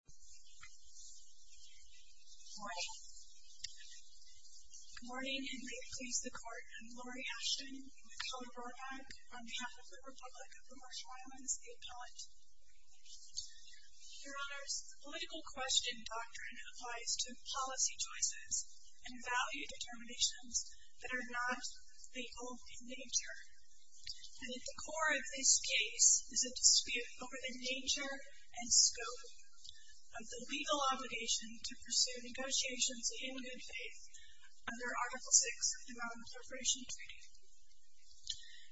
Good morning. Good morning, and may it please the Court, I'm Lori Ashton, in the Color Board Act, on behalf of the Republic of the Marshall Islands State College. Your Honors, the political question doctrine applies to policy choices and value determinations that are not the only nature. And at the core of this case is a dispute over the nature and purpose of the legal obligation to pursue negotiations in good faith under Article 6 of the Brown Corporation Treaty.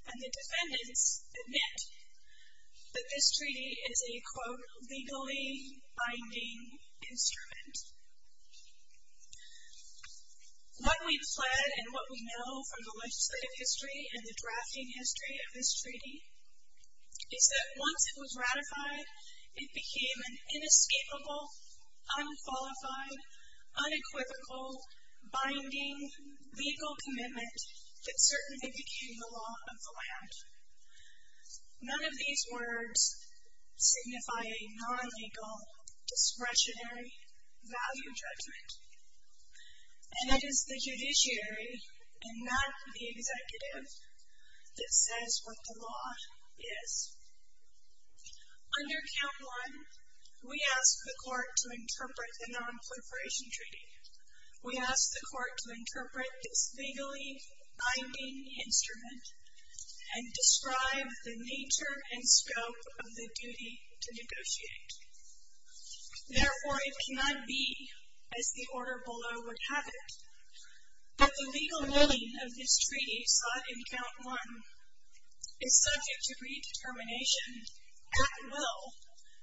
And the defendants admit that this treaty is a, quote, legally binding instrument. What we've fled and what we know from the legislative history and the drafting history of this treaty, is that once it was ratified, it became an inescapable, unqualified, unequivocal, binding, legal commitment that certainly became the law of the land. None of these words signify a non-legal, discretionary value judgment. And it is the judiciary, and not the executive, that says what the law is. Under Count 1, we ask the Court to interpret the non-proliferation treaty. We ask the Court to interpret this legally binding instrument and describe the nature and scope of the duty to negotiate. Therefore, it cannot be, as the order below would have it, that the legal ruling of this treaty sought in Count 1 is subject to redetermination at will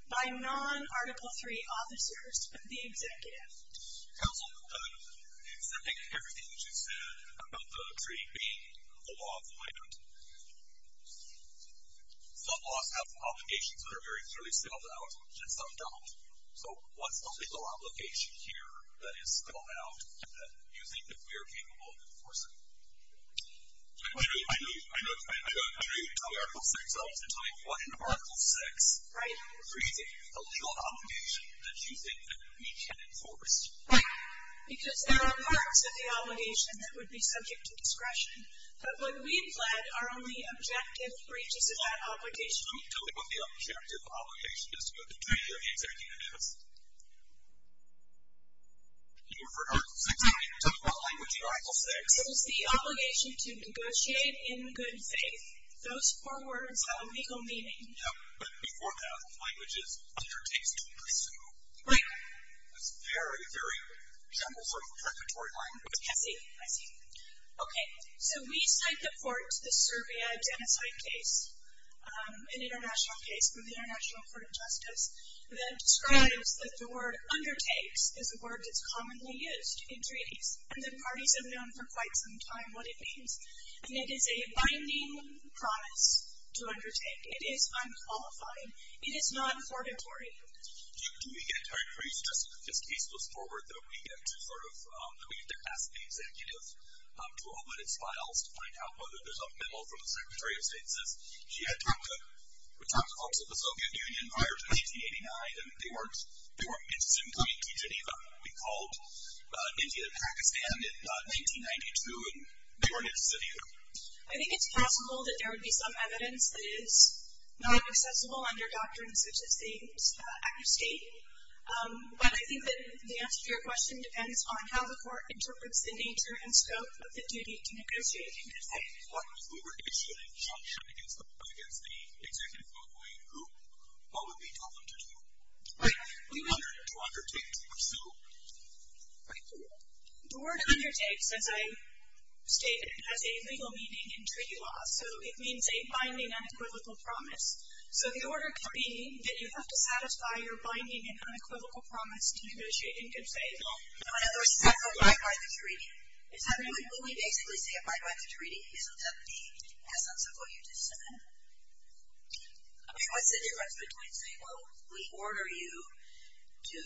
by non-Article 3 officers of the executive. Counsel, is that making everything that you said about the treaty being the law of the So, what's the legal obligation here that is called out that you think we are capable of enforcing? I know you can tell me Article 6. I'll tell you what in Article 6. Right. Creating a legal obligation that you think that we can enforce. Right. Because there are marks of the obligation that would be subject to discretion. But what we've fled are only objective breaches of that obligation. Let me tell you what the objective obligation is to negotiate the executive notice. Can you refer to Article 6? Exactly. You're talking about language in Article 6. It is the obligation to negotiate in good faith. Those four words have a legal meaning. Yep. But before that, the language is undertakes to pursue. Right. It's a very, very general sort of preparatory language. I see. I see. Okay. So, we cite the court, the Serbia genocide case, an international case from the International Court of Justice, that describes that the word undertakes is a word that's commonly used in treaties. And the parties have known for quite some time what it means. And it is a binding promise to undertake. It is unqualified. It is not purgatory. Do we get, are you suggesting that this case goes forward, that we get to sort of, that we get to ask the executive to open its files to find out whether there's a memo from the Secretary of State that says she had talks with talks with the Soviet Union prior to 1889, and they weren't interested in coming to Geneva. We called India and Pakistan in 1992, and they weren't interested either. I think it's possible that there would be some evidence that is not accessible under doctrines such as the Act of State. But I think that the answer to your question depends on how the court interprets the nature and scope of the duty to negotiate in this case. What if we were issuing sanctions against the executive locally, who, what would we tell them to do? Right. To undertake, to pursue. Right. The word undertakes, as I stated, has a legal meaning in treaty law. So, it means binding unequivocal promise. So, if you order a treaty, did you have to satisfy your binding and unequivocal promise to negotiate in good faith? No. In other words, you have to abide by the treaty. Will we basically say abide by the treaty? Isn't that the essence of what you just said? I mean, what's the difference between saying, well, we order you to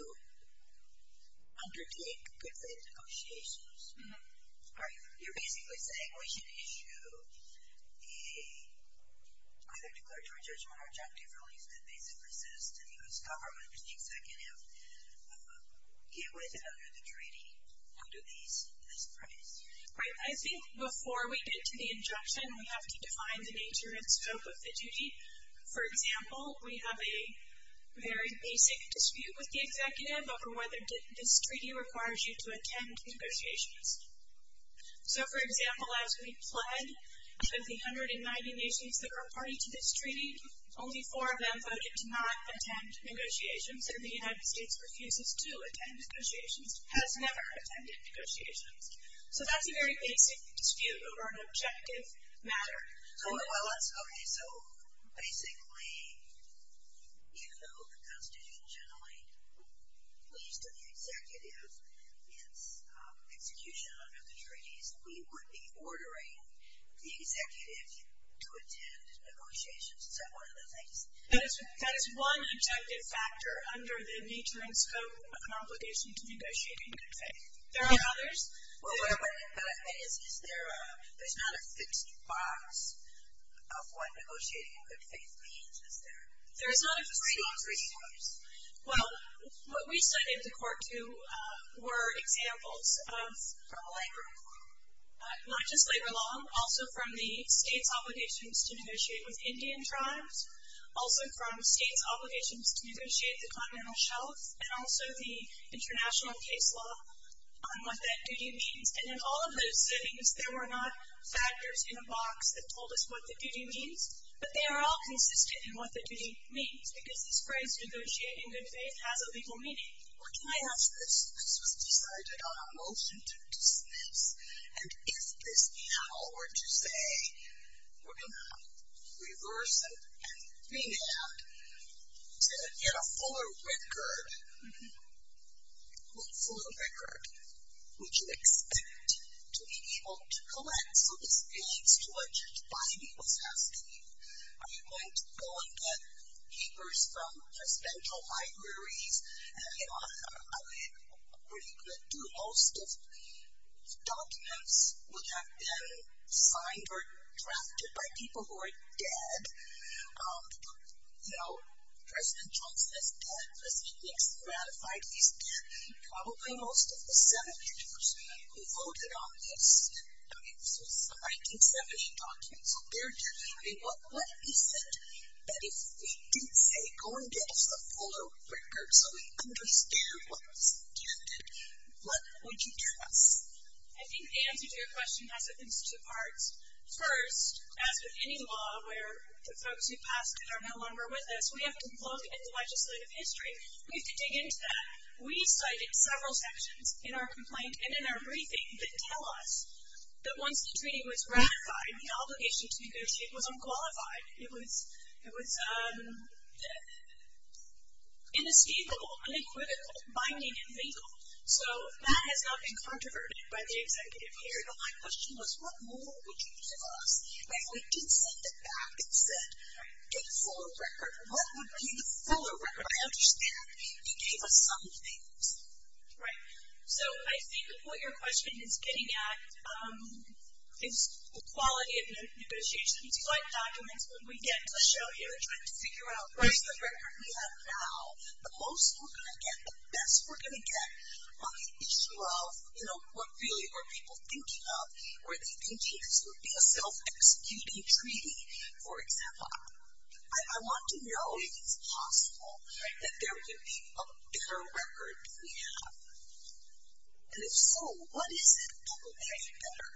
undertake good faith negotiations, or you're basically saying we should issue a either declaratory judgment or injunctive release that basically says to the U.S. government, which is the executive, get with it under the treaty, under this premise. Right. I think before we get to the injunction, we have to define the nature and scope of the duty. For example, we have a very basic dispute with the executive over whether this treaty should attend negotiations. So, for example, as we pled with the 190 nations that are party to this treaty, only four of them voted to not attend negotiations, and the United States refuses to attend negotiations, has never attended negotiations. So, that's a very basic dispute over an objective matter. Okay. So, basically, even though the Constitution generally leads to the executive, its execution under the treaties, we would be ordering the executive to attend negotiations. Is that one of the things? That is one objective factor under the nature and scope of an obligation to negotiate in good faith. There are others. Is there a, there's not a fixed box of what negotiating in good faith means, is there? There's not a fixed box. Well, what we studied at the court, too, were examples of From labor law. Not just labor law, also from the states' obligations to negotiate with Indian tribes, also from states' obligations to negotiate the continental shelf, and also the international case law on what that duty means. And in all of those settings, there were not factors in a box that told us what the duty means, but they are all consistent in what the duty means, because this phrase, negotiate in good faith, has a legal meaning. Well, can I ask this? This was decided on a motion to dismiss, and if this panel were to say, we're going to reverse it and remand to get a fuller record, full record, would you expect to be able to collect, so this leads to what Judge Bidey was asking, are you going to go and get papers from presidential libraries, and you know, I mean, what are people who have been signed or drafted by people who are dead, you know, President Johnson is dead, President Nixon ratified, he's dead, probably most of the senators who voted on this, this was a 1970 document, so they're dead. What is it that if we did say, go and get us a fuller record so we understand what was intended, what would you trust? I think the answer to your question has at least two parts. First, as with any law where the folks who passed it are no longer with us, we have to look at the legislative history. We have to dig into that. We cited several sections in our complaint and in our briefing that tell us that once the treaty was ratified, the obligation to negotiate was unqualified, it was inescapable, unequivocal, binding, and legal. So, that has not been controverted by the executive here. My question was, what more would you give us? If we did send it back and said, get a fuller record, what would be the fuller record? I understand you gave us some things. Right. So, I think the point your question is getting at is quality of negotiations. You like documents when we get to show you, trying to figure out, right, the record we most are going to get, the best we're going to get on the issue of, you know, what really are people thinking of? Are they thinking this would be a self-executing treaty? For example, I want to know if it's possible that there would be a better record than we have. And if so, what is it that would make it better?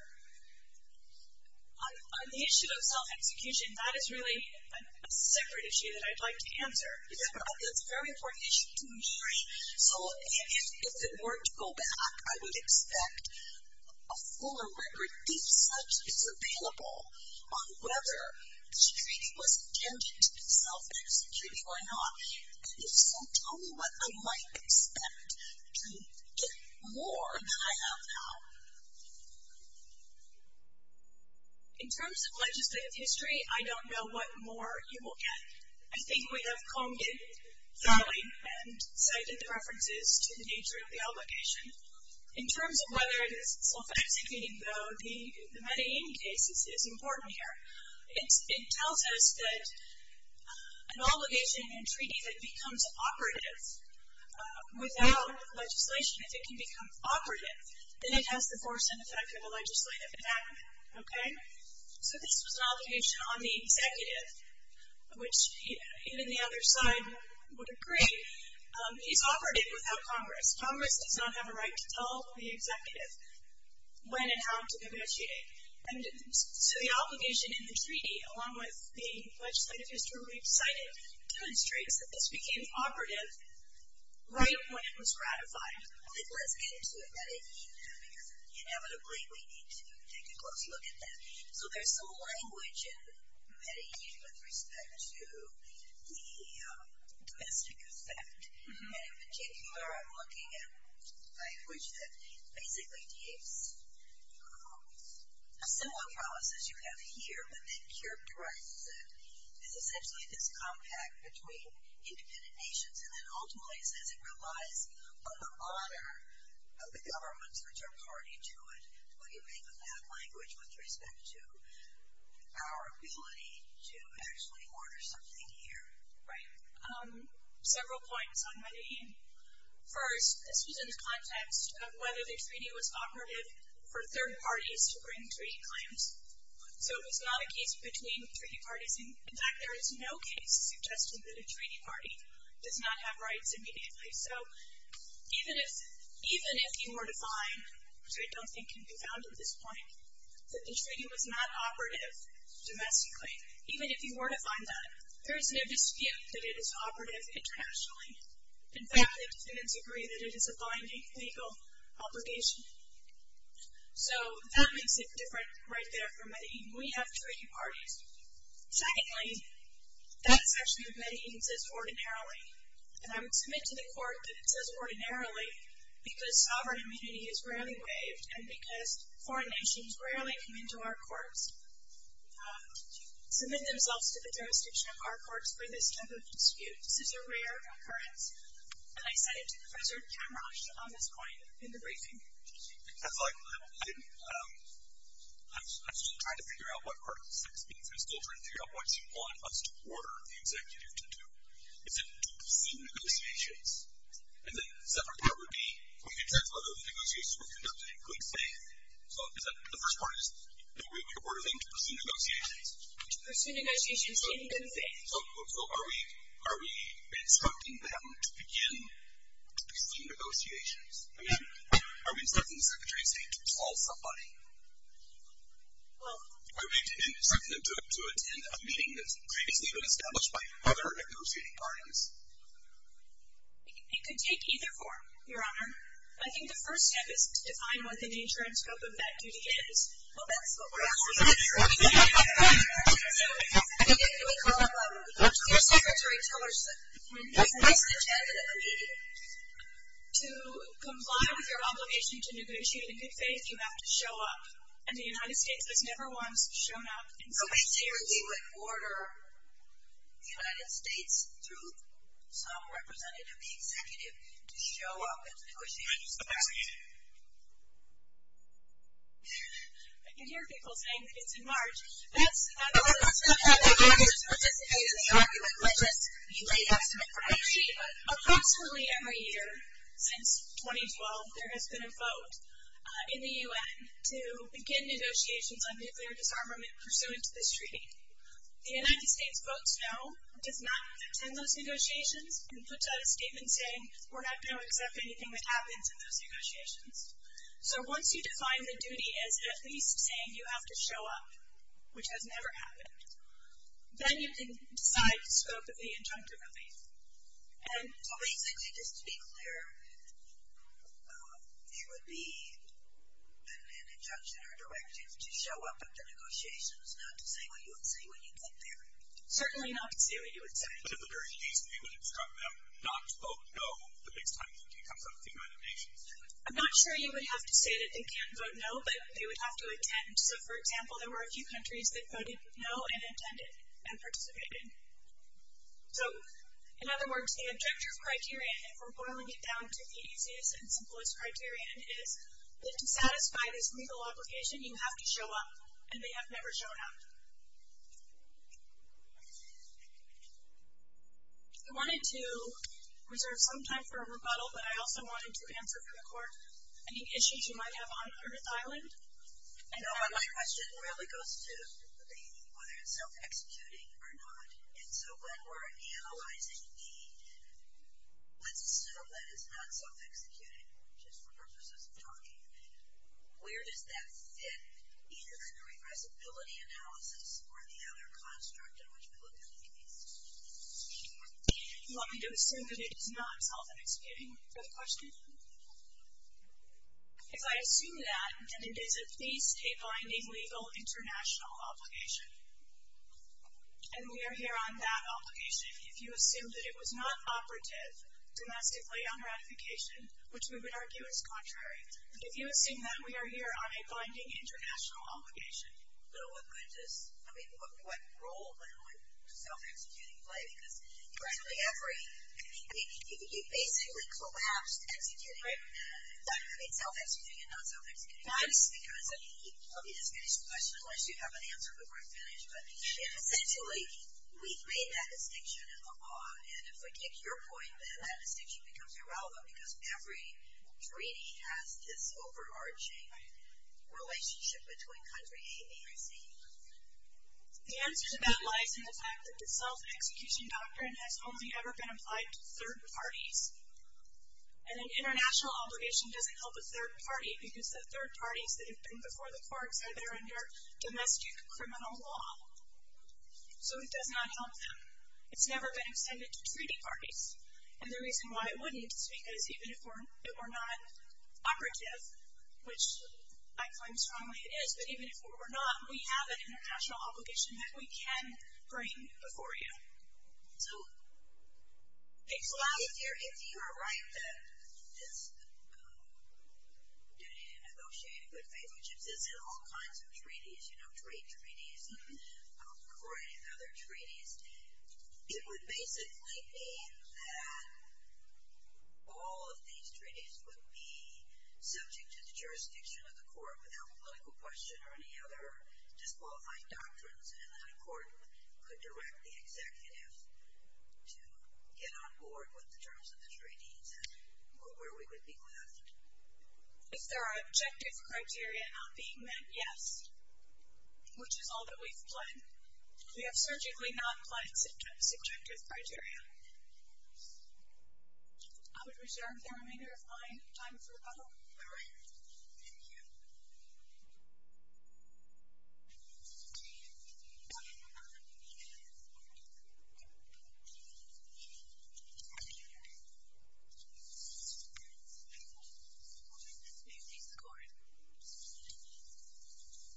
On the issue of self-execution, that is really a separate issue that I'd like to answer. It's a very important issue to me. So, if it were to go back, I would expect a fuller record, if such is available, on whether this treaty was intended to be self-executing or not. And if so, tell me what I might expect to get more than I have now. In terms of legislative history, I don't know what more you will get. I think we have combed it thoroughly and cited the references to the nature of the obligation. In terms of whether it is self-executing, though, the Medellin case is important here. It tells us that an obligation in a treaty that becomes operative without legislation, if it can become operative, then it has the force and effect of a legislative act, okay? So, this was an obligation on the executive, which even the other side would agree. He's offered it without Congress. Congress does not have a right to tell the executive when and how to negotiate it. So, the obligation in the treaty, along with the legislative history we've cited, demonstrates that this became operative right when it was ratified. Then let's get into Medellin, because inevitably we need to take a close look at that. So, there's some language in Medellin with respect to the domestic effect. And in particular, I'm looking at language that basically takes similar promises you have here, but then characterizes it as essentially this compact between independent nations. And then ultimately says it relies on the honor of the governments which are party to it. What do you make of that language with respect to our ability to actually order something here? Right. Several points on Medellin. First, this was in the context of whether the treaty was operative for third parties to bring treaty claims. So, it was not a case between treaty parties. In fact, there is no case suggesting that a treaty party does not have rights immediately. So, even if you were to find, which I don't think can be found at this point, that the treaty was not operative domestically, even if you were to find that, there is no dispute that it is operative internationally. In fact, the defendants agree that it is a binding legal obligation. So, that makes it different right there for Medellin. We have treaty parties. Secondly, that is actually what Medellin says ordinarily. And I would submit to the court that it says ordinarily because sovereign immunity is rarely waived and because foreign nations rarely come into our courts, submit themselves to the jurisdiction of our courts for this type of dispute. This is a rare occurrence. And I said it to Professor Kamrosch on this point in the briefing. I'm still trying to figure out what part of this thing is. I'm still trying to figure out what you want us to order the executive to do. Is it to pursue negotiations? And then a separate part would be, can you tell us whether the negotiations were conducted in clean faith? The first part is, do we order them to pursue negotiations? To pursue negotiations in clean faith. So, are we instructing them to begin to pursue negotiations? I mean, are we instructing the Secretary of State to call somebody? Are we instructing them to attend a meeting that's previously been established by other negotiating parties? It could take either form, Your Honor. I think the first step is to define what the nature and scope of that duty is. Well, that's what we're asking. So, to comply with your obligation to negotiate in good faith, you have to show up. And the United States has never once shown up in such a way. So, we clearly would order the United States, through some representative, the executive, to show up and negotiate. I can hear people saying that it's in March. That's not true. Approximately every year since 2012, there has been a vote in the U.N. to begin negotiations on nuclear disarmament pursuant to this treaty. The United States votes no, does not attend those negotiations, and puts out a statement saying we're not going to accept anything that happens in those negotiations. So, once you define the duty as at least saying you have to show up, which has never happened, then you can decide the scope of the injunctive relief. So, basically, just to be clear, there would be an injunction or directive to show up at the negotiations, not to say what you would say when you get there? Certainly not to say what you would say. But at the very least, we would instruct them not to vote no the next time the treaty comes up with the United Nations. I'm not sure you would have to say that they can't vote no, but they would have to attend. So, for example, there were a few countries that voted no and attended and participated. So, in other words, the objective criterion, if we're boiling it down to the easiest and simplest criterion, is that to satisfy this legal obligation, you have to show up, and they have never shown up. I wanted to reserve some time for rebuttal, but I also wanted to answer for the Court any issues you might have on Earth Island. My question really goes to the whether it's self-executing or not. And so when we're analyzing need, let's assume that it's not self-executing, just for purposes of talking. Where does that fit, either in the regressibility analysis or the other construct in which we look at the case? You want me to assume that it is not self-executing? Is that the question? If I assume that, then does it face a binding legal international obligation? And we are here on that obligation. If you assume that it was not operative domestically on ratification, which we would argue is contrary, if you assume that, we are here on a binding international obligation. But what role would self-executing play? Because virtually every... I mean, you basically collapsed self-executing and non-self-executing. I'll give you this finished question unless you have an answer before I finish. But essentially, we've made that distinction in the law. And if I take your point, then that distinction becomes irrelevant because every treaty has this overarching relationship between country A, B, or C. The answer to that lies in the fact that the self-execution doctrine has only ever been applied to third parties. And an international obligation doesn't help a third party because the third parties that have been before the courts are there under domestic criminal law. So it does not help them. It's never been extended to treaty parties. And the reason why it wouldn't is because even if it were not operative, which I claim strongly it is, but even if it were not, we have an international obligation that we can bring before you. So if you're right that this duty to negotiate good faith relationships is in all kinds of treaties, you know, trade treaties or any other treaties, it would basically mean that all of these treaties would be subject to the jurisdiction of the court without political question or any other disqualifying doctrines and then a court could direct the executive to get on board with the terms of those treaties and where we would be left. If there are objective criteria not being met, yes, which is all that we've planned. We have certainly not planned subjective criteria. I would reserve the remainder of my time for rebuttal. All right. Thank you. Thank you. What does this mean, please, the court?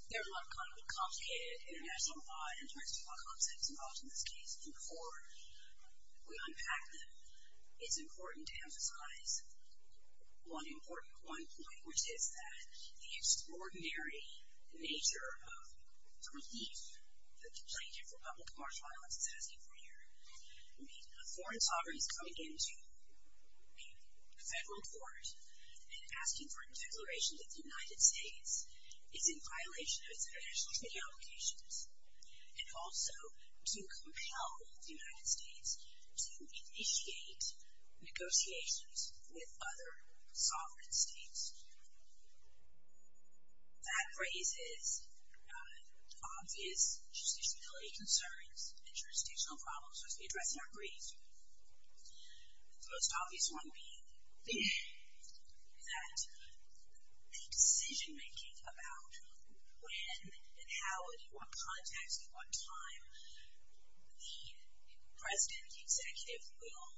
There are a lot of complicated international law and international law concepts involved in this case. Before we unpack them, it's important to emphasize one important point, which is that the extraordinary nature of the relief that the Plaintiff for Public Martial Violence is asking for here. I mean, a foreign sovereign is coming into a federal court and asking for a declaration that the United States is in violation of its international treaty obligations and also to compel the United States to initiate negotiations with other sovereign states. That raises obvious jurisdictionality concerns and jurisdictional problems which we address in our brief. The most obvious one being that the decision-making about when and how and in what context and what time the president, the executive, will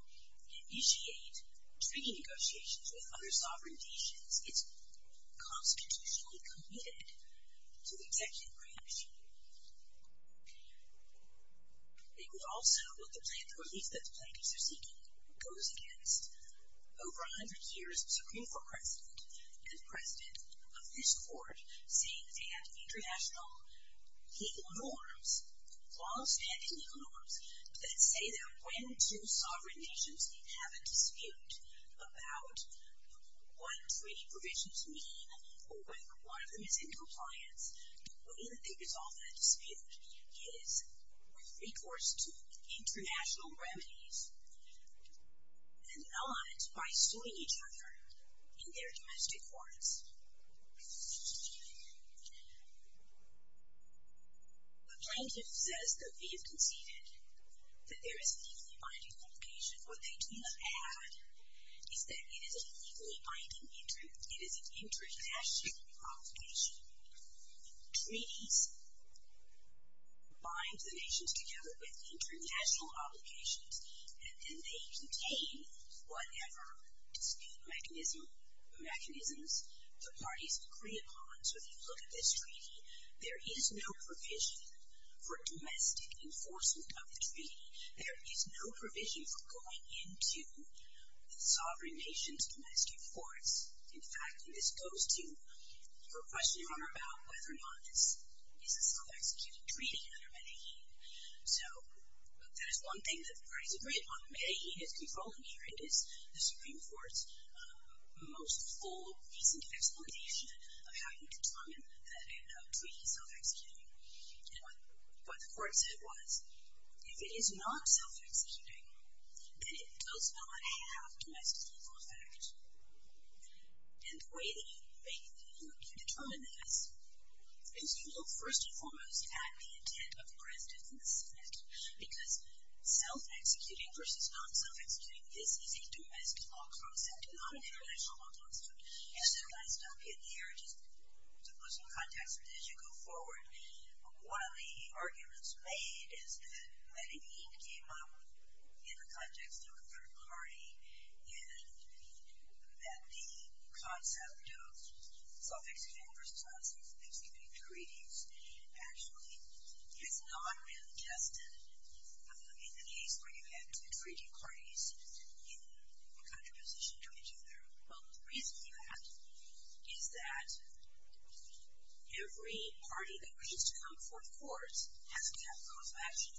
initiate treaty negotiations with other sovereign nations is constitutionally committed to the executive branch. It would also, with the relief that the plaintiffs are seeking, goes against over 100 years of Supreme Court precedent and the precedent of this court saying that they have international legal norms, long-standing legal norms, that say that when two sovereign nations have a dispute about what treaty provisions mean or when one of them is in compliance, the way that they resolve that dispute is with recourse to international remedies and not by suing each other in their domestic courts. The Plaintiff says that we have conceded that there is a legally binding obligation. What they do not add is that it is a legally binding, it is an international obligation. Treaties bind the nations together with international obligations and then they contain whatever dispute mechanisms the parties agree upon. So if you look at this treaty, there is no provision for domestic enforcement of the treaty. There is no provision for going into the sovereign nations' domestic courts. In fact, this goes to your question, Your Honor, about whether or not this is a self-executed treaty under Medellin. So that is one thing that the parties agree upon. Medellin is controlling here. It is the Supreme Court's most full, recent explanation of how you determine that a treaty is self-executing. And what the Court said was, if it is not self-executing, then it does not have domestic legal effect. And the way that you determine this is you look first and foremost at the intent of the President and the Senate. Because self-executing versus non-self-executing, this is a domestic law clause, not an international law clause. Yes, Your Honor, I stopped you there just to put some context in as you go forward. One of the arguments made is that Medellin came up in the context of a third party and that the concept of self-executing versus non-self-executing treaties actually is not really tested in the case where you have two treaty parties in a country position to each other. Well, the reason for that is that every party that agrees to come before the courts has to have a cause of action.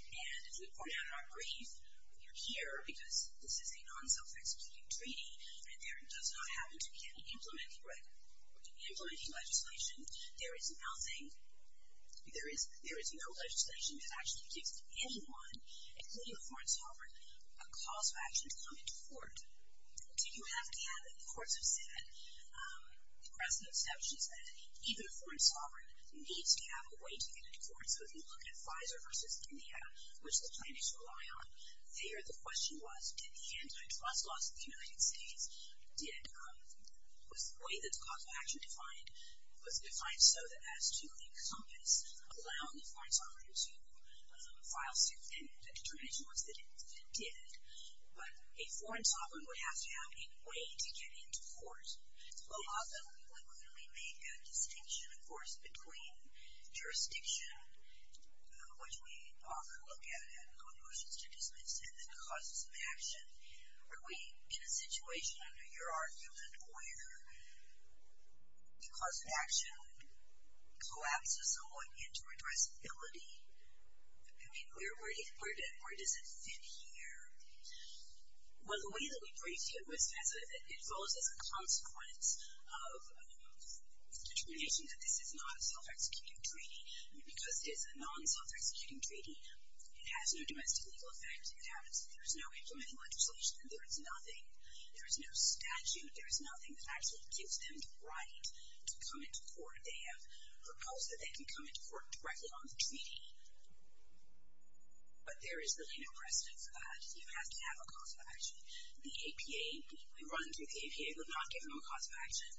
And as we point out in our brief, we are here because this is a non-self-executing treaty and there does not happen to be any implementing legislation. There is no legislation that actually gives anyone, including a foreign sovereign, a cause of action to come into court. Do you have to have it? The courts have said, across the exceptions, that even a foreign sovereign needs to have a way to get into court. So if you look at Pfizer versus India, which the plaintiffs rely on, there the question was did the antitrust laws of the United States, was the way that the cause of action was defined so as to encompass allowing the foreign sovereign to file suit and the determination was that it did. But a foreign sovereign would have to have a way to get into court. Well, often when we make a distinction, of course, between jurisdiction, which we often look at and go to motions to dismiss, and the cause of action, are we in a situation under your argument where the cause of action collapses somewhat into addressability? I mean, where does it fit here? Well, the way that we briefed you, it follows as a consequence of the determination that this is not a self-executing treaty. Because it is a non-self-executing treaty, it has no domestic legal effect. There is no implementing legislation. There is nothing. There is no statute. There is nothing that actually gives them the right to come into court. They have proposed that they can come into court directly on the treaty, but there is really no precedent for that. You have to have a cause of action. The APA, if we run through the APA, would not give them a cause of action.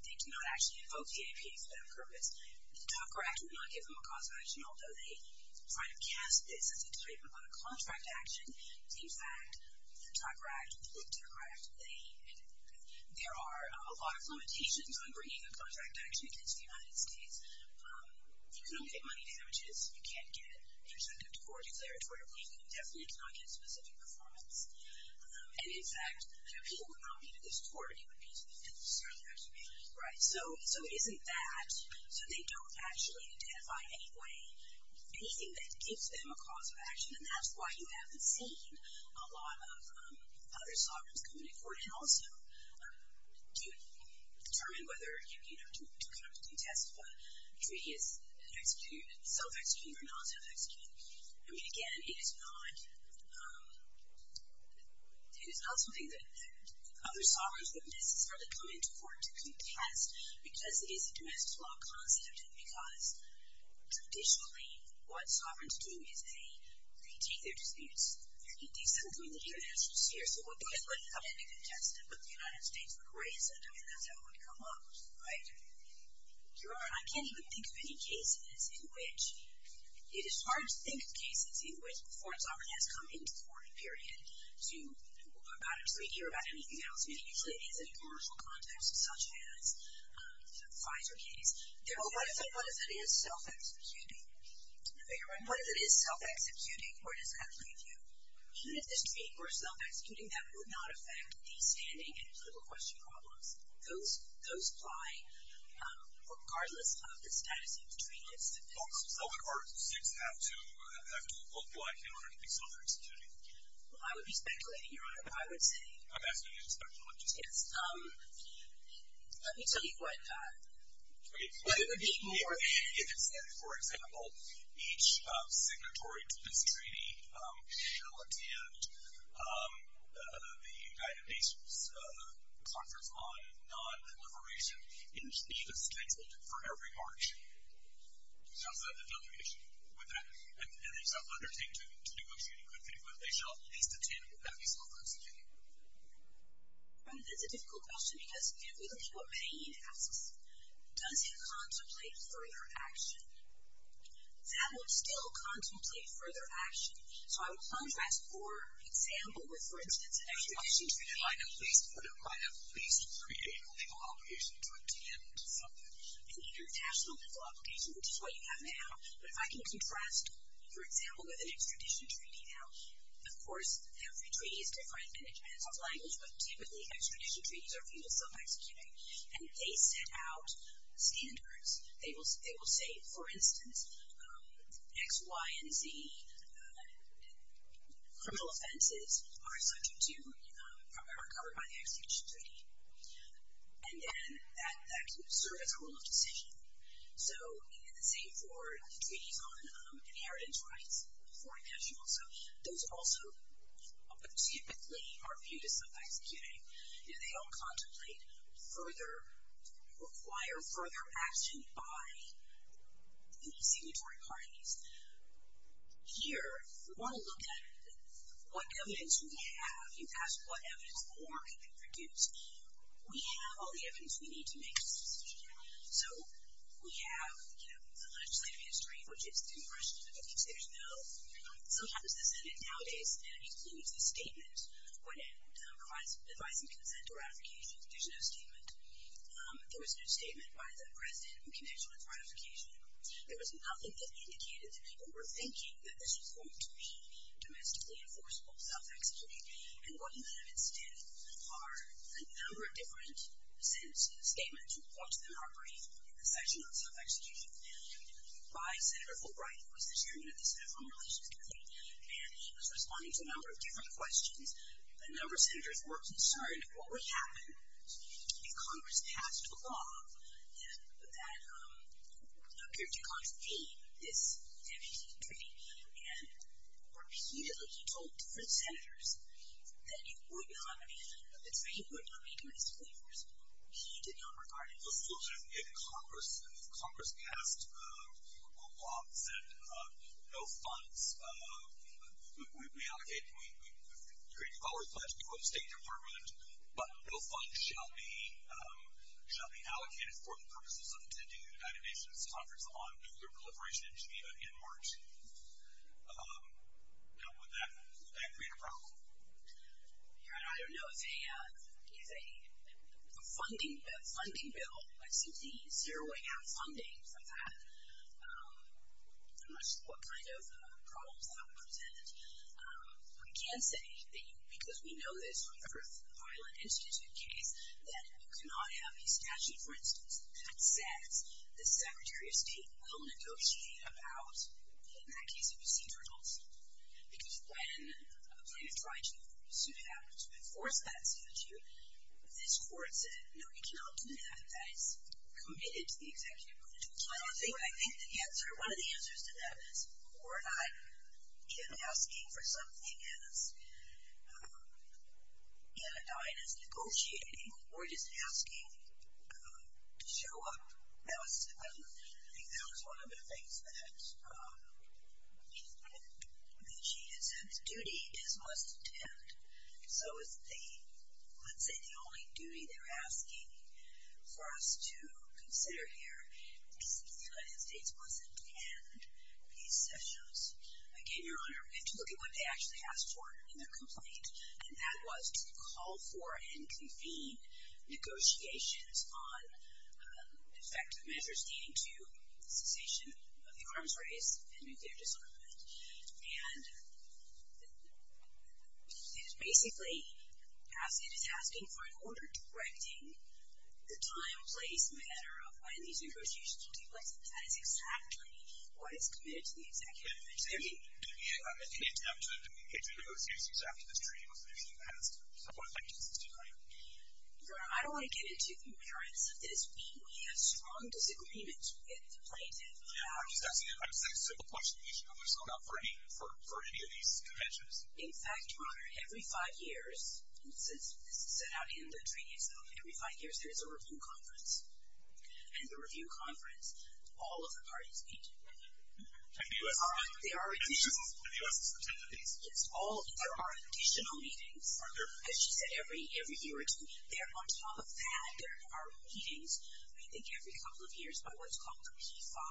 They do not actually invoke the APA for that purpose. The Tucker Act would not give them a cause of action, although they try to cast this as a type of a contract action. In fact, the Tucker Act would decry it. There are a lot of limitations on bringing a contract action against the United States. You cannot get money damages. You can't get an incentive to court declaratorily. You definitely cannot get specific performance. And, in fact, I know people would not be to this court. It would be to the filibuster. Right. So it isn't that. So they don't actually identify in any way anything that gives them a cause of action, and that's why you haven't seen a lot of other sovereigns come into court. And also, to determine whether, you know, to kind of contest if a treaty is self-executing or non-self-executing. I mean, again, it is not something that other sovereigns would necessarily come into court to contest because it is a domestic law concept and because traditionally what sovereigns do is they take their disputes, they do something that you can't actually see here. So it wouldn't come into contestant, but the United States would raise it. I mean, that's how it would come up. Right. You're right. I can't even think of any cases in which, it is hard to think of cases in which a foreign sovereign has come into court, period, about a treaty or about anything else. It usually is in commercial context, such as the Pfizer case. What if it is self-executing? No, you're right. What if it is self-executing? Where does that leave you? Even if this treaty were self-executing, that would not affect the standing and political question problems. Those apply regardless of the status of the treaty. Folks, public parties and states have to comply in order to be self-executing. Well, I would be speculating, Your Honor. I would say. I'm asking you to speculate. Yes. Let me tell you what it would be more. If, for example, each signatory to this treaty shall attend the United Nations Conference on Non-Proliferation in Geneva's State Building for every March, shall set the delegation with that, and these are undertaken to negotiate a good, good equivalent, they shall at least attend that peaceful conference in Geneva. Your Honor, that's a difficult question, because if you look at what Payne asks, does he contemplate further action? That would still contemplate further action. So I would contrast, for example, with, for instance, an extradition treaty. But it might at least create a legal obligation to attend something. An international legal obligation, which is what you have now. But if I can contrast, for example, with an extradition treaty now, of course every treaty is different and it depends on the language, but typically extradition treaties are female self-executing. And if they set out standards, they will say, for instance, X, Y, and Z criminal offenses are covered by the extradition treaty. And then that can serve as a rule of decision. So, and the same for the treaties on inheritance rights for individuals. So those also typically are viewed as self-executing. They don't contemplate further, require further action by any signatory parties. Here, if we want to look at what evidence we have, you ask what evidence more can be produced, we have all the evidence we need to make a decision. So we have, you know, the legislative history, which is the impression that the consumers know. Sometimes the Senate nowadays includes a statement when it provides advice and consent to ratification. There's no statement. There was no statement by the President in connection with ratification. There was nothing that indicated that people were thinking that this was going to be domestically enforceable self-execution. And what you have instead are a number of different statements which we'll talk to in our brief in the section on self-execution. By Senator Fulbright, who was the chairman of the Senate Foreign Relations Committee, and he was responding to a number of different questions. A number of senators were concerned what would happen if Congress passed a law that appeared to contravene this entity treaty. And repeatedly he told different senators that it would not, he did not regard it as a solution. If Congress passed a law that said no funds would be allocated, we've created all these funds to go to the State Department, but no funds shall be allocated for the purposes of attending the United Nations Conference on Nuclear Proliferation in Geneva in March, would that create a problem? I don't know if a funding bill would simply zero out funding for that. I'm not sure what kind of problems that would present. We can say, because we know this from the Earth Violent Institute case, that you cannot have a statute, for instance, that says the Secretary of State will negotiate about, in that case, if you see turtles. Because when a plaintiff tried to enforce that statute, this court said, no, you cannot do that. That is committed to the executive order. So I think the answer, one of the answers to that is, we're not asking for something as anodyne as negotiating, we're just asking to show up. I think that was one of the things that she had said, the duty is must attend. So it's the, let's say, the only duty they're asking for us to consider here is that the United States must attend these sessions. Again, Your Honor, we have to look at what they actually asked for in their complaint, and that was to call for and convene negotiations on effective measures leading to the cessation of the arms race and nuclear disarmament. And it is basically, it is asking for an order directing the time, place, manner of when these negotiations will take place, and that is exactly what is committed to the executive order. So there'd be an interruption in the negotiations after the treaty was We have strong disagreements with the plaintiff. Yeah, I'm just asking a simple question. You should know this, Your Honor, for any of these conventions. In fact, Your Honor, every five years, this is set out in the treaty itself, every five years there is a review conference, and the review conference, all of the parties meet. And the U.S. has attended these? Yes, all of them. There are additional meetings. As she said, every year or two, they're on top of that. There are meetings, I think, every couple of years, by what's called the P5,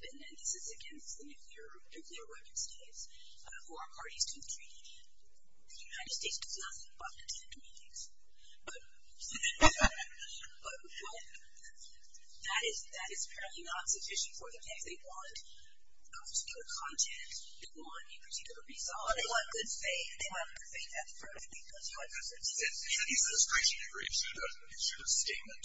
and this is against the nuclear weapon states, who are parties to the treaty. The United States does nothing but attend meetings. But that is apparently not sufficient for them, because they want a particular content. They want a particular result. They want good faith. They want good faith at the front. Should the administration issue a statement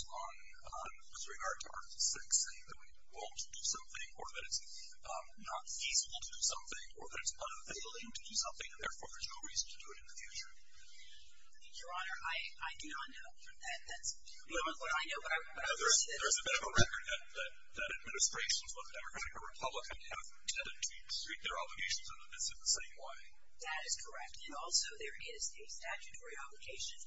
with regard to Article VI, saying that we won't do something, or that it's not feasible to do something, or that it's unavailable to do something, and therefore there's no reason to do it in the future? Your Honor, I do not know that that's what I know. There's a bit of a record that administrations, whether Democratic or Republican, have tended to treat their obligations under this in the same way. That is correct. And also there is a statutory obligation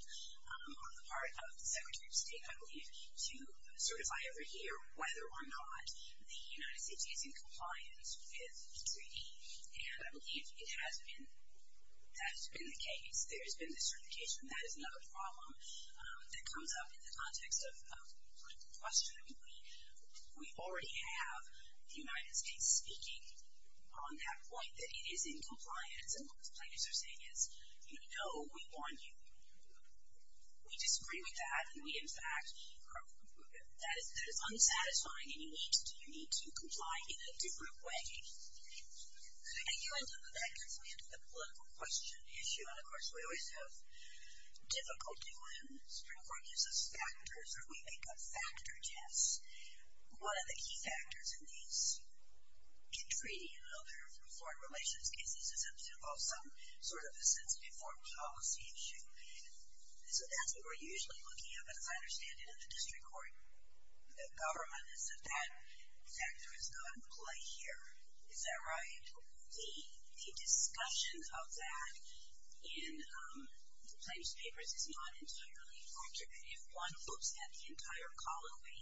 on the part of the Secretary of State, I believe, to certify over here whether or not the United States is in compliance with the treaty. And I believe it has been. That has been the case. There has been this certification. That is another problem that comes up in the context of the question. We already have the United States speaking on that point, that it is in compliance. And what the plaintiffs are saying is, no, we want you. We disagree with that. And we, in fact, that is unsatisfying. And you need to comply in a different way. And you end up with that gets me into the political question issue. And of course, we always have difficulty when Supreme Court uses factors, or we make a factor test. One of the key factors in these, in treaty and other foreign relations cases, is that they involve some sort of a sensitive foreign policy issue. And so that's what we're usually looking at. But as I understand it in the district court, the government is that that factor is not in play here. Is that right? The discussion of that in the plaintiffs' papers is not entirely accurate. If one looks at the entire colloquy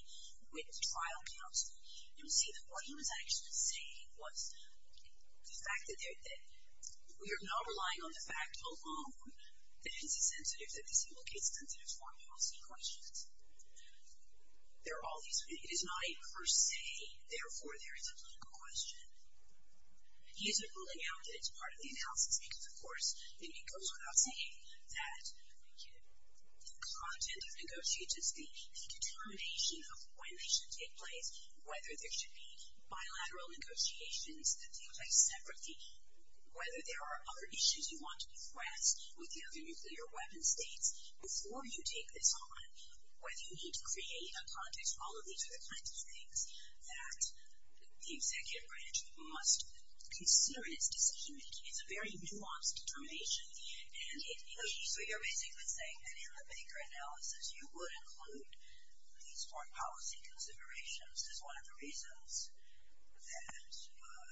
with trial counsel, you will see that what he was actually saying was the fact that we are not relying on the fact alone that it's a sensitive, that this implicates sensitive foreign policy questions. It is not a per se, therefore there is a political question. He isn't ruling out that it's part of the analysis. Because of course, it goes without saying that the content of negotiations, the determination of when they should take place, whether there should be bilateral negotiations that take place separately, whether there are other issues you want to address with the other nuclear weapon states before you take this on, whether you need to create a context for all of these other kinds of things that the executive branch must consider in its decision making. It's a very nuanced determination. And so you're basically saying that in the Baker analysis, you would include these foreign policy considerations as one of the reasons that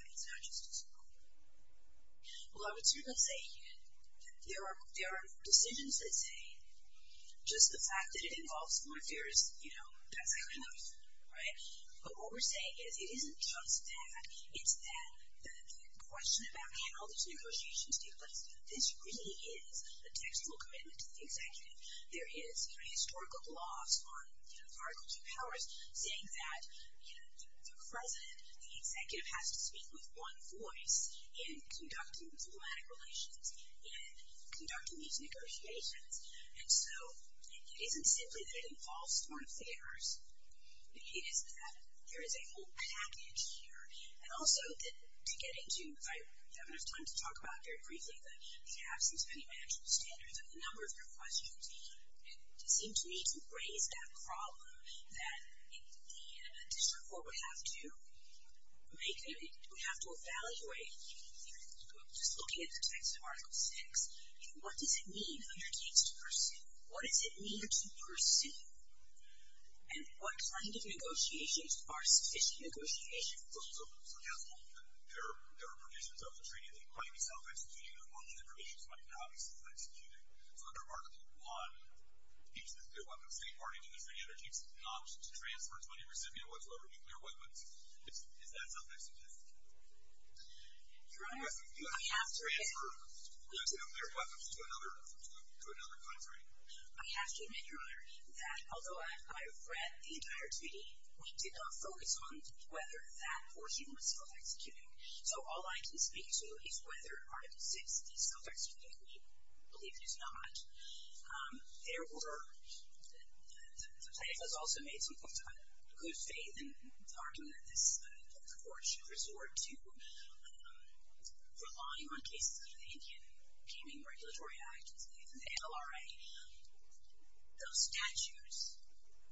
it's not just a simple rule. Well, I would certainly say that there are decisions that say, just the fact that it involves foreign affairs, that's good enough. But what we're saying is it isn't just that. It's that the question about can all these negotiations take place, this really is a textual commitment to the executive. There is historical gloss on articles of powers saying that the president, the executive, has to speak with one voice in conducting diplomatic relations, in conducting these negotiations. And so it isn't simply that it involves foreign affairs. It is that there is a whole package here. And also, to get into, I don't have enough time to talk about very briefly the absence of any managerial standards on the number of your questions. It seemed to me to raise that problem that the district court would have to evaluate, just looking at the text of Article VI, what does it mean under case to pursue? What does it mean to pursue? And what kind of negotiations are sufficient negotiations? So yes, there are provisions of the treaty that might be self-executed, but only the provisions might not be self-executed. So under Article I, each nuclear weapon is imparted into the treaty, and there keeps an option to transfer 20 recipient ones over nuclear weapons. Is that something sufficient? Your Honor, I have to admit... You have to transfer nuclear weapons to another country. I have to admit, Your Honor, that although I've read the entire treaty, we did not focus on whether that portion was self-executing. So all I can speak to is whether Article VI is self-executing. We believe it is not. There were... The plaintiff has also made some good faith in the argument that this court should resort to relying on cases under the Indian Paving Regulatory Act, as we believe in the NLRA. Those statutes,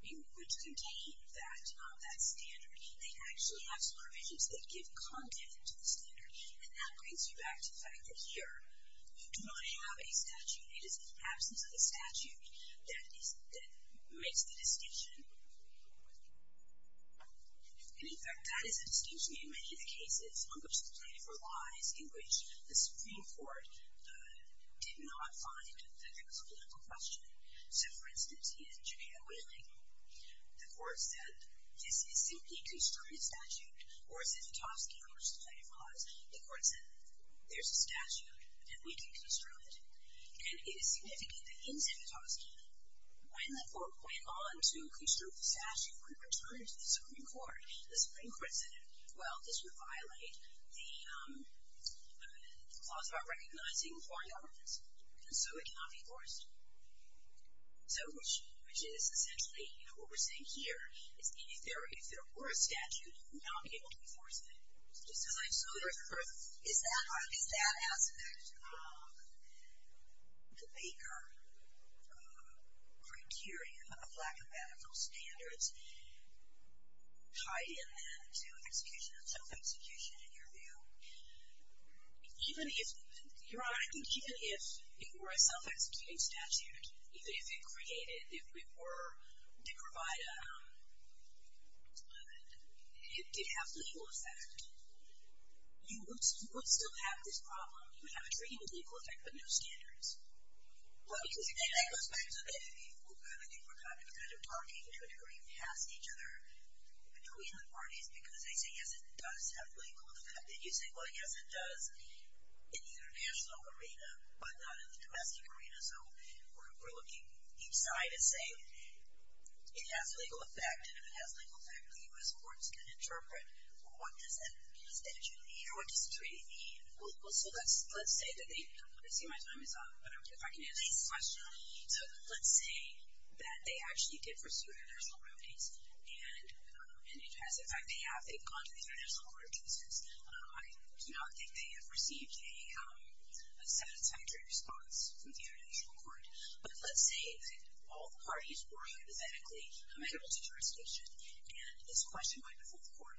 which contain that standard, they actually have some provisions that give content to the standard, and that brings me back to the fact that here, we do not have a statute. It is in the absence of a statute that makes the distinction. And in fact, that is a distinction in many of the cases on which the plaintiff relies, in which the Supreme Court did not find that there was a political question. So for instance, in Jamaica Whaling, the court said, this is simply a constrained statute, or as in Petovsky, on which the plaintiff relies, the court said, there's a statute, and we can construe it. And it is significant that in Petovsky, when the court went on to construe the statute, when it returned to the Supreme Court, the Supreme Court said, well, this would violate the clause about recognizing foreign elements, and so it cannot be enforced. So, which is essentially, you know, what we're saying here, is if there were a statute, it would not be able to enforce it. Just as I so refer to, is that aspect of the Baker criterion of lack of medical standards tied in then to execution, self-execution, in your view? Even if, Your Honor, I think even if it were a self-executing statute, even if it created, if it were to provide a, if it did have legal effect, you would still have this problem, you would have a treaty with legal effect, but no standards. And that goes back to the, I think we're kind of talking to a degree past each other, between the parties, because they say, yes, it does have legal effect, and you say, well, yes, it does in the international arena, but not in the domestic arena, so we're looking each side and saying, it has legal effect, and if it has legal effect, the U.S. courts can interpret, well, what does that statute mean, or what does the treaty mean? Well, so let's say that they, I see my time is up, but if I can answer this question, so let's say that they actually did pursue international remedies, and it has, in fact, they have, they've gone to the international court of justice. I do not think they have received a satisfactory response from the international court, but let's say that all the parties were hypothetically committable to jurisdiction, and this question went before the court,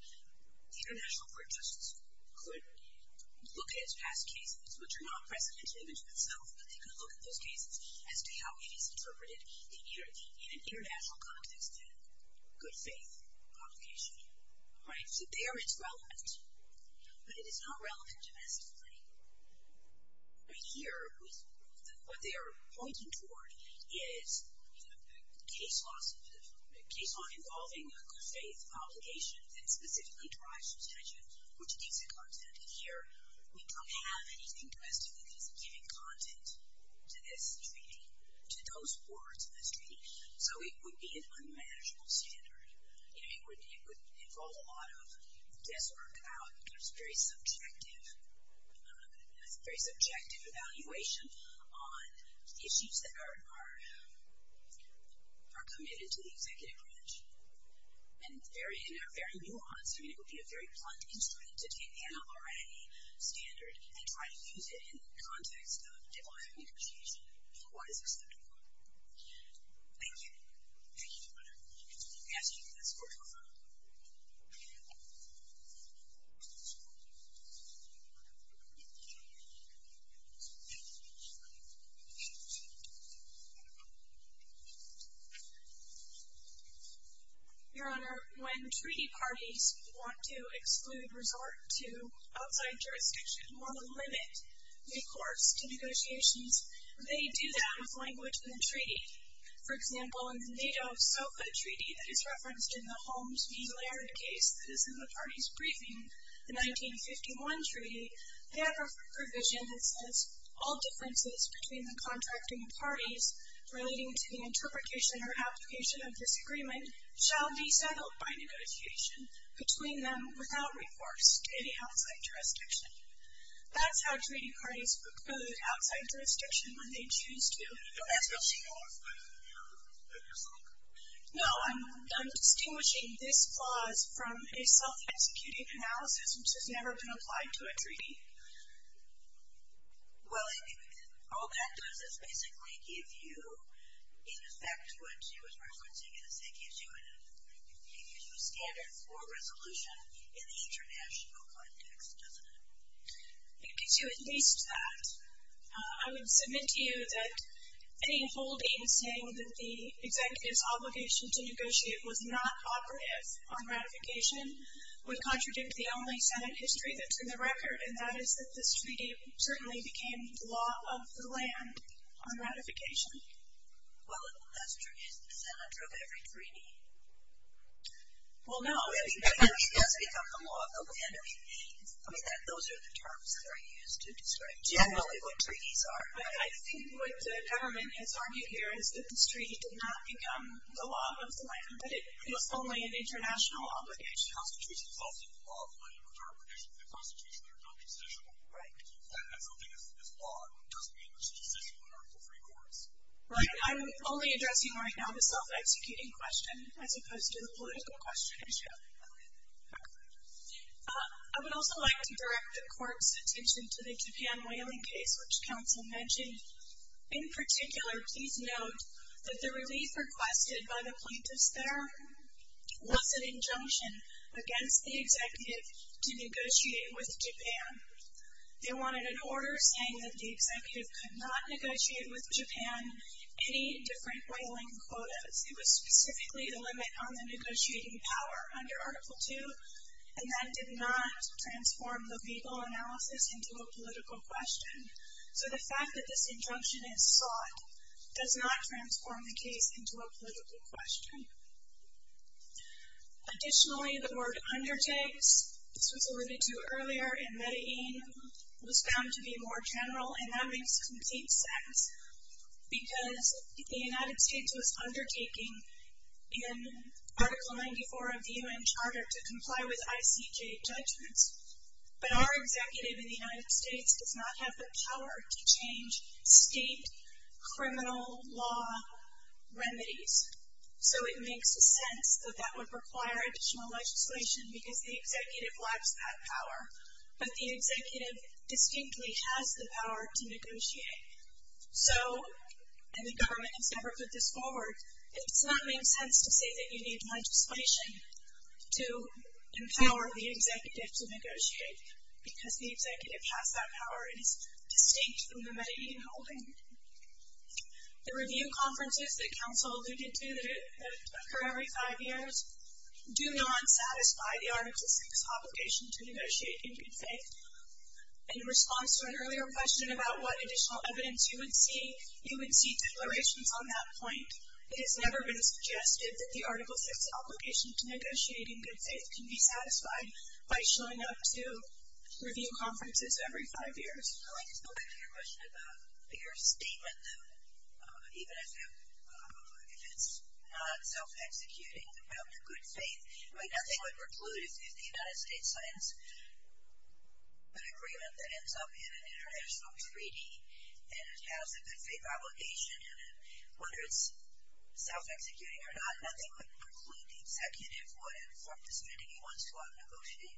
the international court of justice could look at its past cases, which are not precedent in and of themselves, but they could look at those cases as to how it is interpreted in an international context and good faith complication, right? So there it's relevant, but it is not relevant domestically. Right here, what they are pointing toward is a case law involving a good faith obligation that specifically drives the statute, which gives it content, and here we don't have anything domestically that is giving content to this treaty, to those words in this treaty, so it would be an unmanageable standard. It would involve a lot of guesswork and a lot of talk about very subjective evaluation on issues that are committed to the executive branch and are very nuanced. I mean, it would be a very blunt instrument to take the NLRA standard and try to use it in the context of diplomatic negotiation, and what is acceptable. Thank you. Thank you, Your Honor. We ask you to pass the court order. Thank you. Your Honor, when treaty parties want to exclude resort to outside jurisdiction or limit recourse to negotiations, they do that with language in the treaty. For example, in the NATO SOFA treaty that is referenced in the Holmes v. Laird case that is in the parties' briefing, the 1951 treaty, they have a provision that says all differences between the contracting parties relating to the interpretation or application of this agreement shall be settled by negotiation between them without recourse to any outside jurisdiction. That's how treaty parties preclude outside jurisdiction when they choose to. That's what she wants. That's what you're saying? No, I'm distinguishing this clause from a self-executing analysis which has never been applied to a treaty. Well, all that does is basically give you, in effect, what she was referencing, is it gives you a standard for resolution in the international context, doesn't it? It gives you at least that. I would submit to you that any holding saying that the executive's obligation to negotiate was not operative on ratification would contradict the only Senate history that's in the record, and that is that this treaty certainly became the law of the land on ratification. Well, that's true. It's the center of every treaty. Well, no. I mean, it has become the law of the land. I mean, those are the terms that are used to describe generally what treaties are. I think what the government has argued here is that this treaty did not become the law of the land, but it was only an international obligation. The Constitution is also the law of the land, but there are provisions in the Constitution that are not decisional. Right. And if something is law, it doesn't mean it's decisional in order to free courts. Right. I'm only addressing right now the self-executing question as opposed to the political question. Okay. I would also like to direct the court's attention to the Japan whaling case which counsel mentioned. In particular, please note that the relief requested by the plaintiffs there was an injunction against the executive to negotiate with Japan. They wanted an order saying that the executive could not negotiate with Japan any different whaling quotas. It was specifically the limit on the negotiating power under Article II, and that did not transform the legal analysis into a political question. So the fact that this injunction is sought does not transform the case into a political question. Additionally, the word undertakes, this was alluded to earlier in Medellin, was found to be more general, and that makes complete sense because the United States was undertaking in Article 94 of the UN Charter to comply with ICJ judgments, but our executive in the United States does not have the power to change state criminal law remedies. So it makes sense that that would require additional legislation because the executive lacks that power, but the executive distinctly has the power to negotiate. So, and the government has never put this forward, it does not make sense to say that you need legislation to empower the executive to negotiate because the executive has that power and is distinct from the Medellin holding. The review conferences that counsel alluded to that occur every five years do not satisfy the Article VI obligation to negotiate in good faith. In response to an earlier question about what additional evidence you would see, you would see declarations on that point. It has never been suggested that the Article VI obligation to negotiate in good faith can be satisfied by showing up to review conferences every five years. I'd like to go back to your question about your statement, though, even if it's not self-executing in good faith. I mean, nothing would preclude, if the United States signs an agreement that ends up in an international treaty and it has a good faith obligation and whether it's self-executing or not, nothing would preclude the executive from negotiating.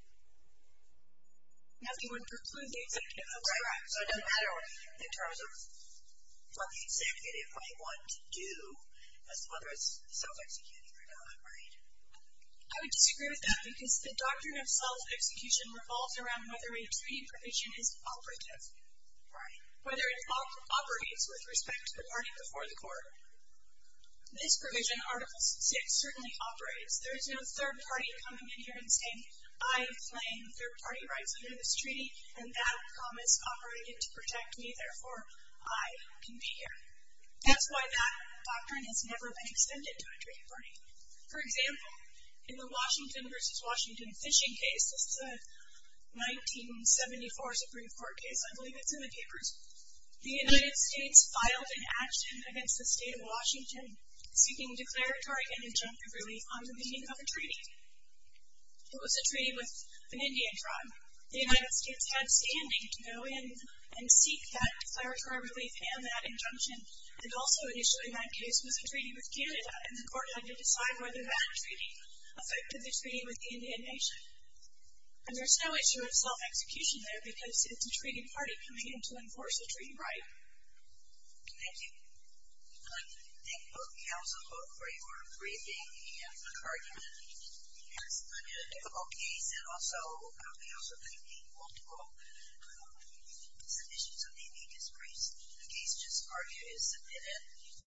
Nothing would preclude the executive. So it doesn't matter what the executive might want to do, whether it's self-executing or not, right? I would disagree with that because the doctrine of self-execution revolves around whether a treaty provision is operative, whether it operates with respect to the party before the court. This provision, Article VI, certainly operates. There is no third party coming in here and saying, I claim third party rights under this treaty and that promise operated to protect me, therefore I can be here. That's why that doctrine has never been extended to a treaty party. For example, in the Washington v. Washington fishing case, this is a 1974 Supreme Court case, I believe it's in the papers, the United States filed an action against the state of Washington seeking declaratory and injunctive relief on the meaning of a treaty. It was a treaty with an Indian tribe. The United States had standing to go in and seek that declaratory relief and that injunction. And also, initially, that case was a treaty with Canada, and the court had to decide whether that treaty affected the treaty with the Indian nation. And there's no issue of self-execution there because it's a treaty party coming in to enforce the treaty right. Thank you. Thank you both, counsel, both for your briefing and for your argument. It's been a difficult case, and also, counsel, there have been multiple submissions that may be displeased. The case just argued is submitted.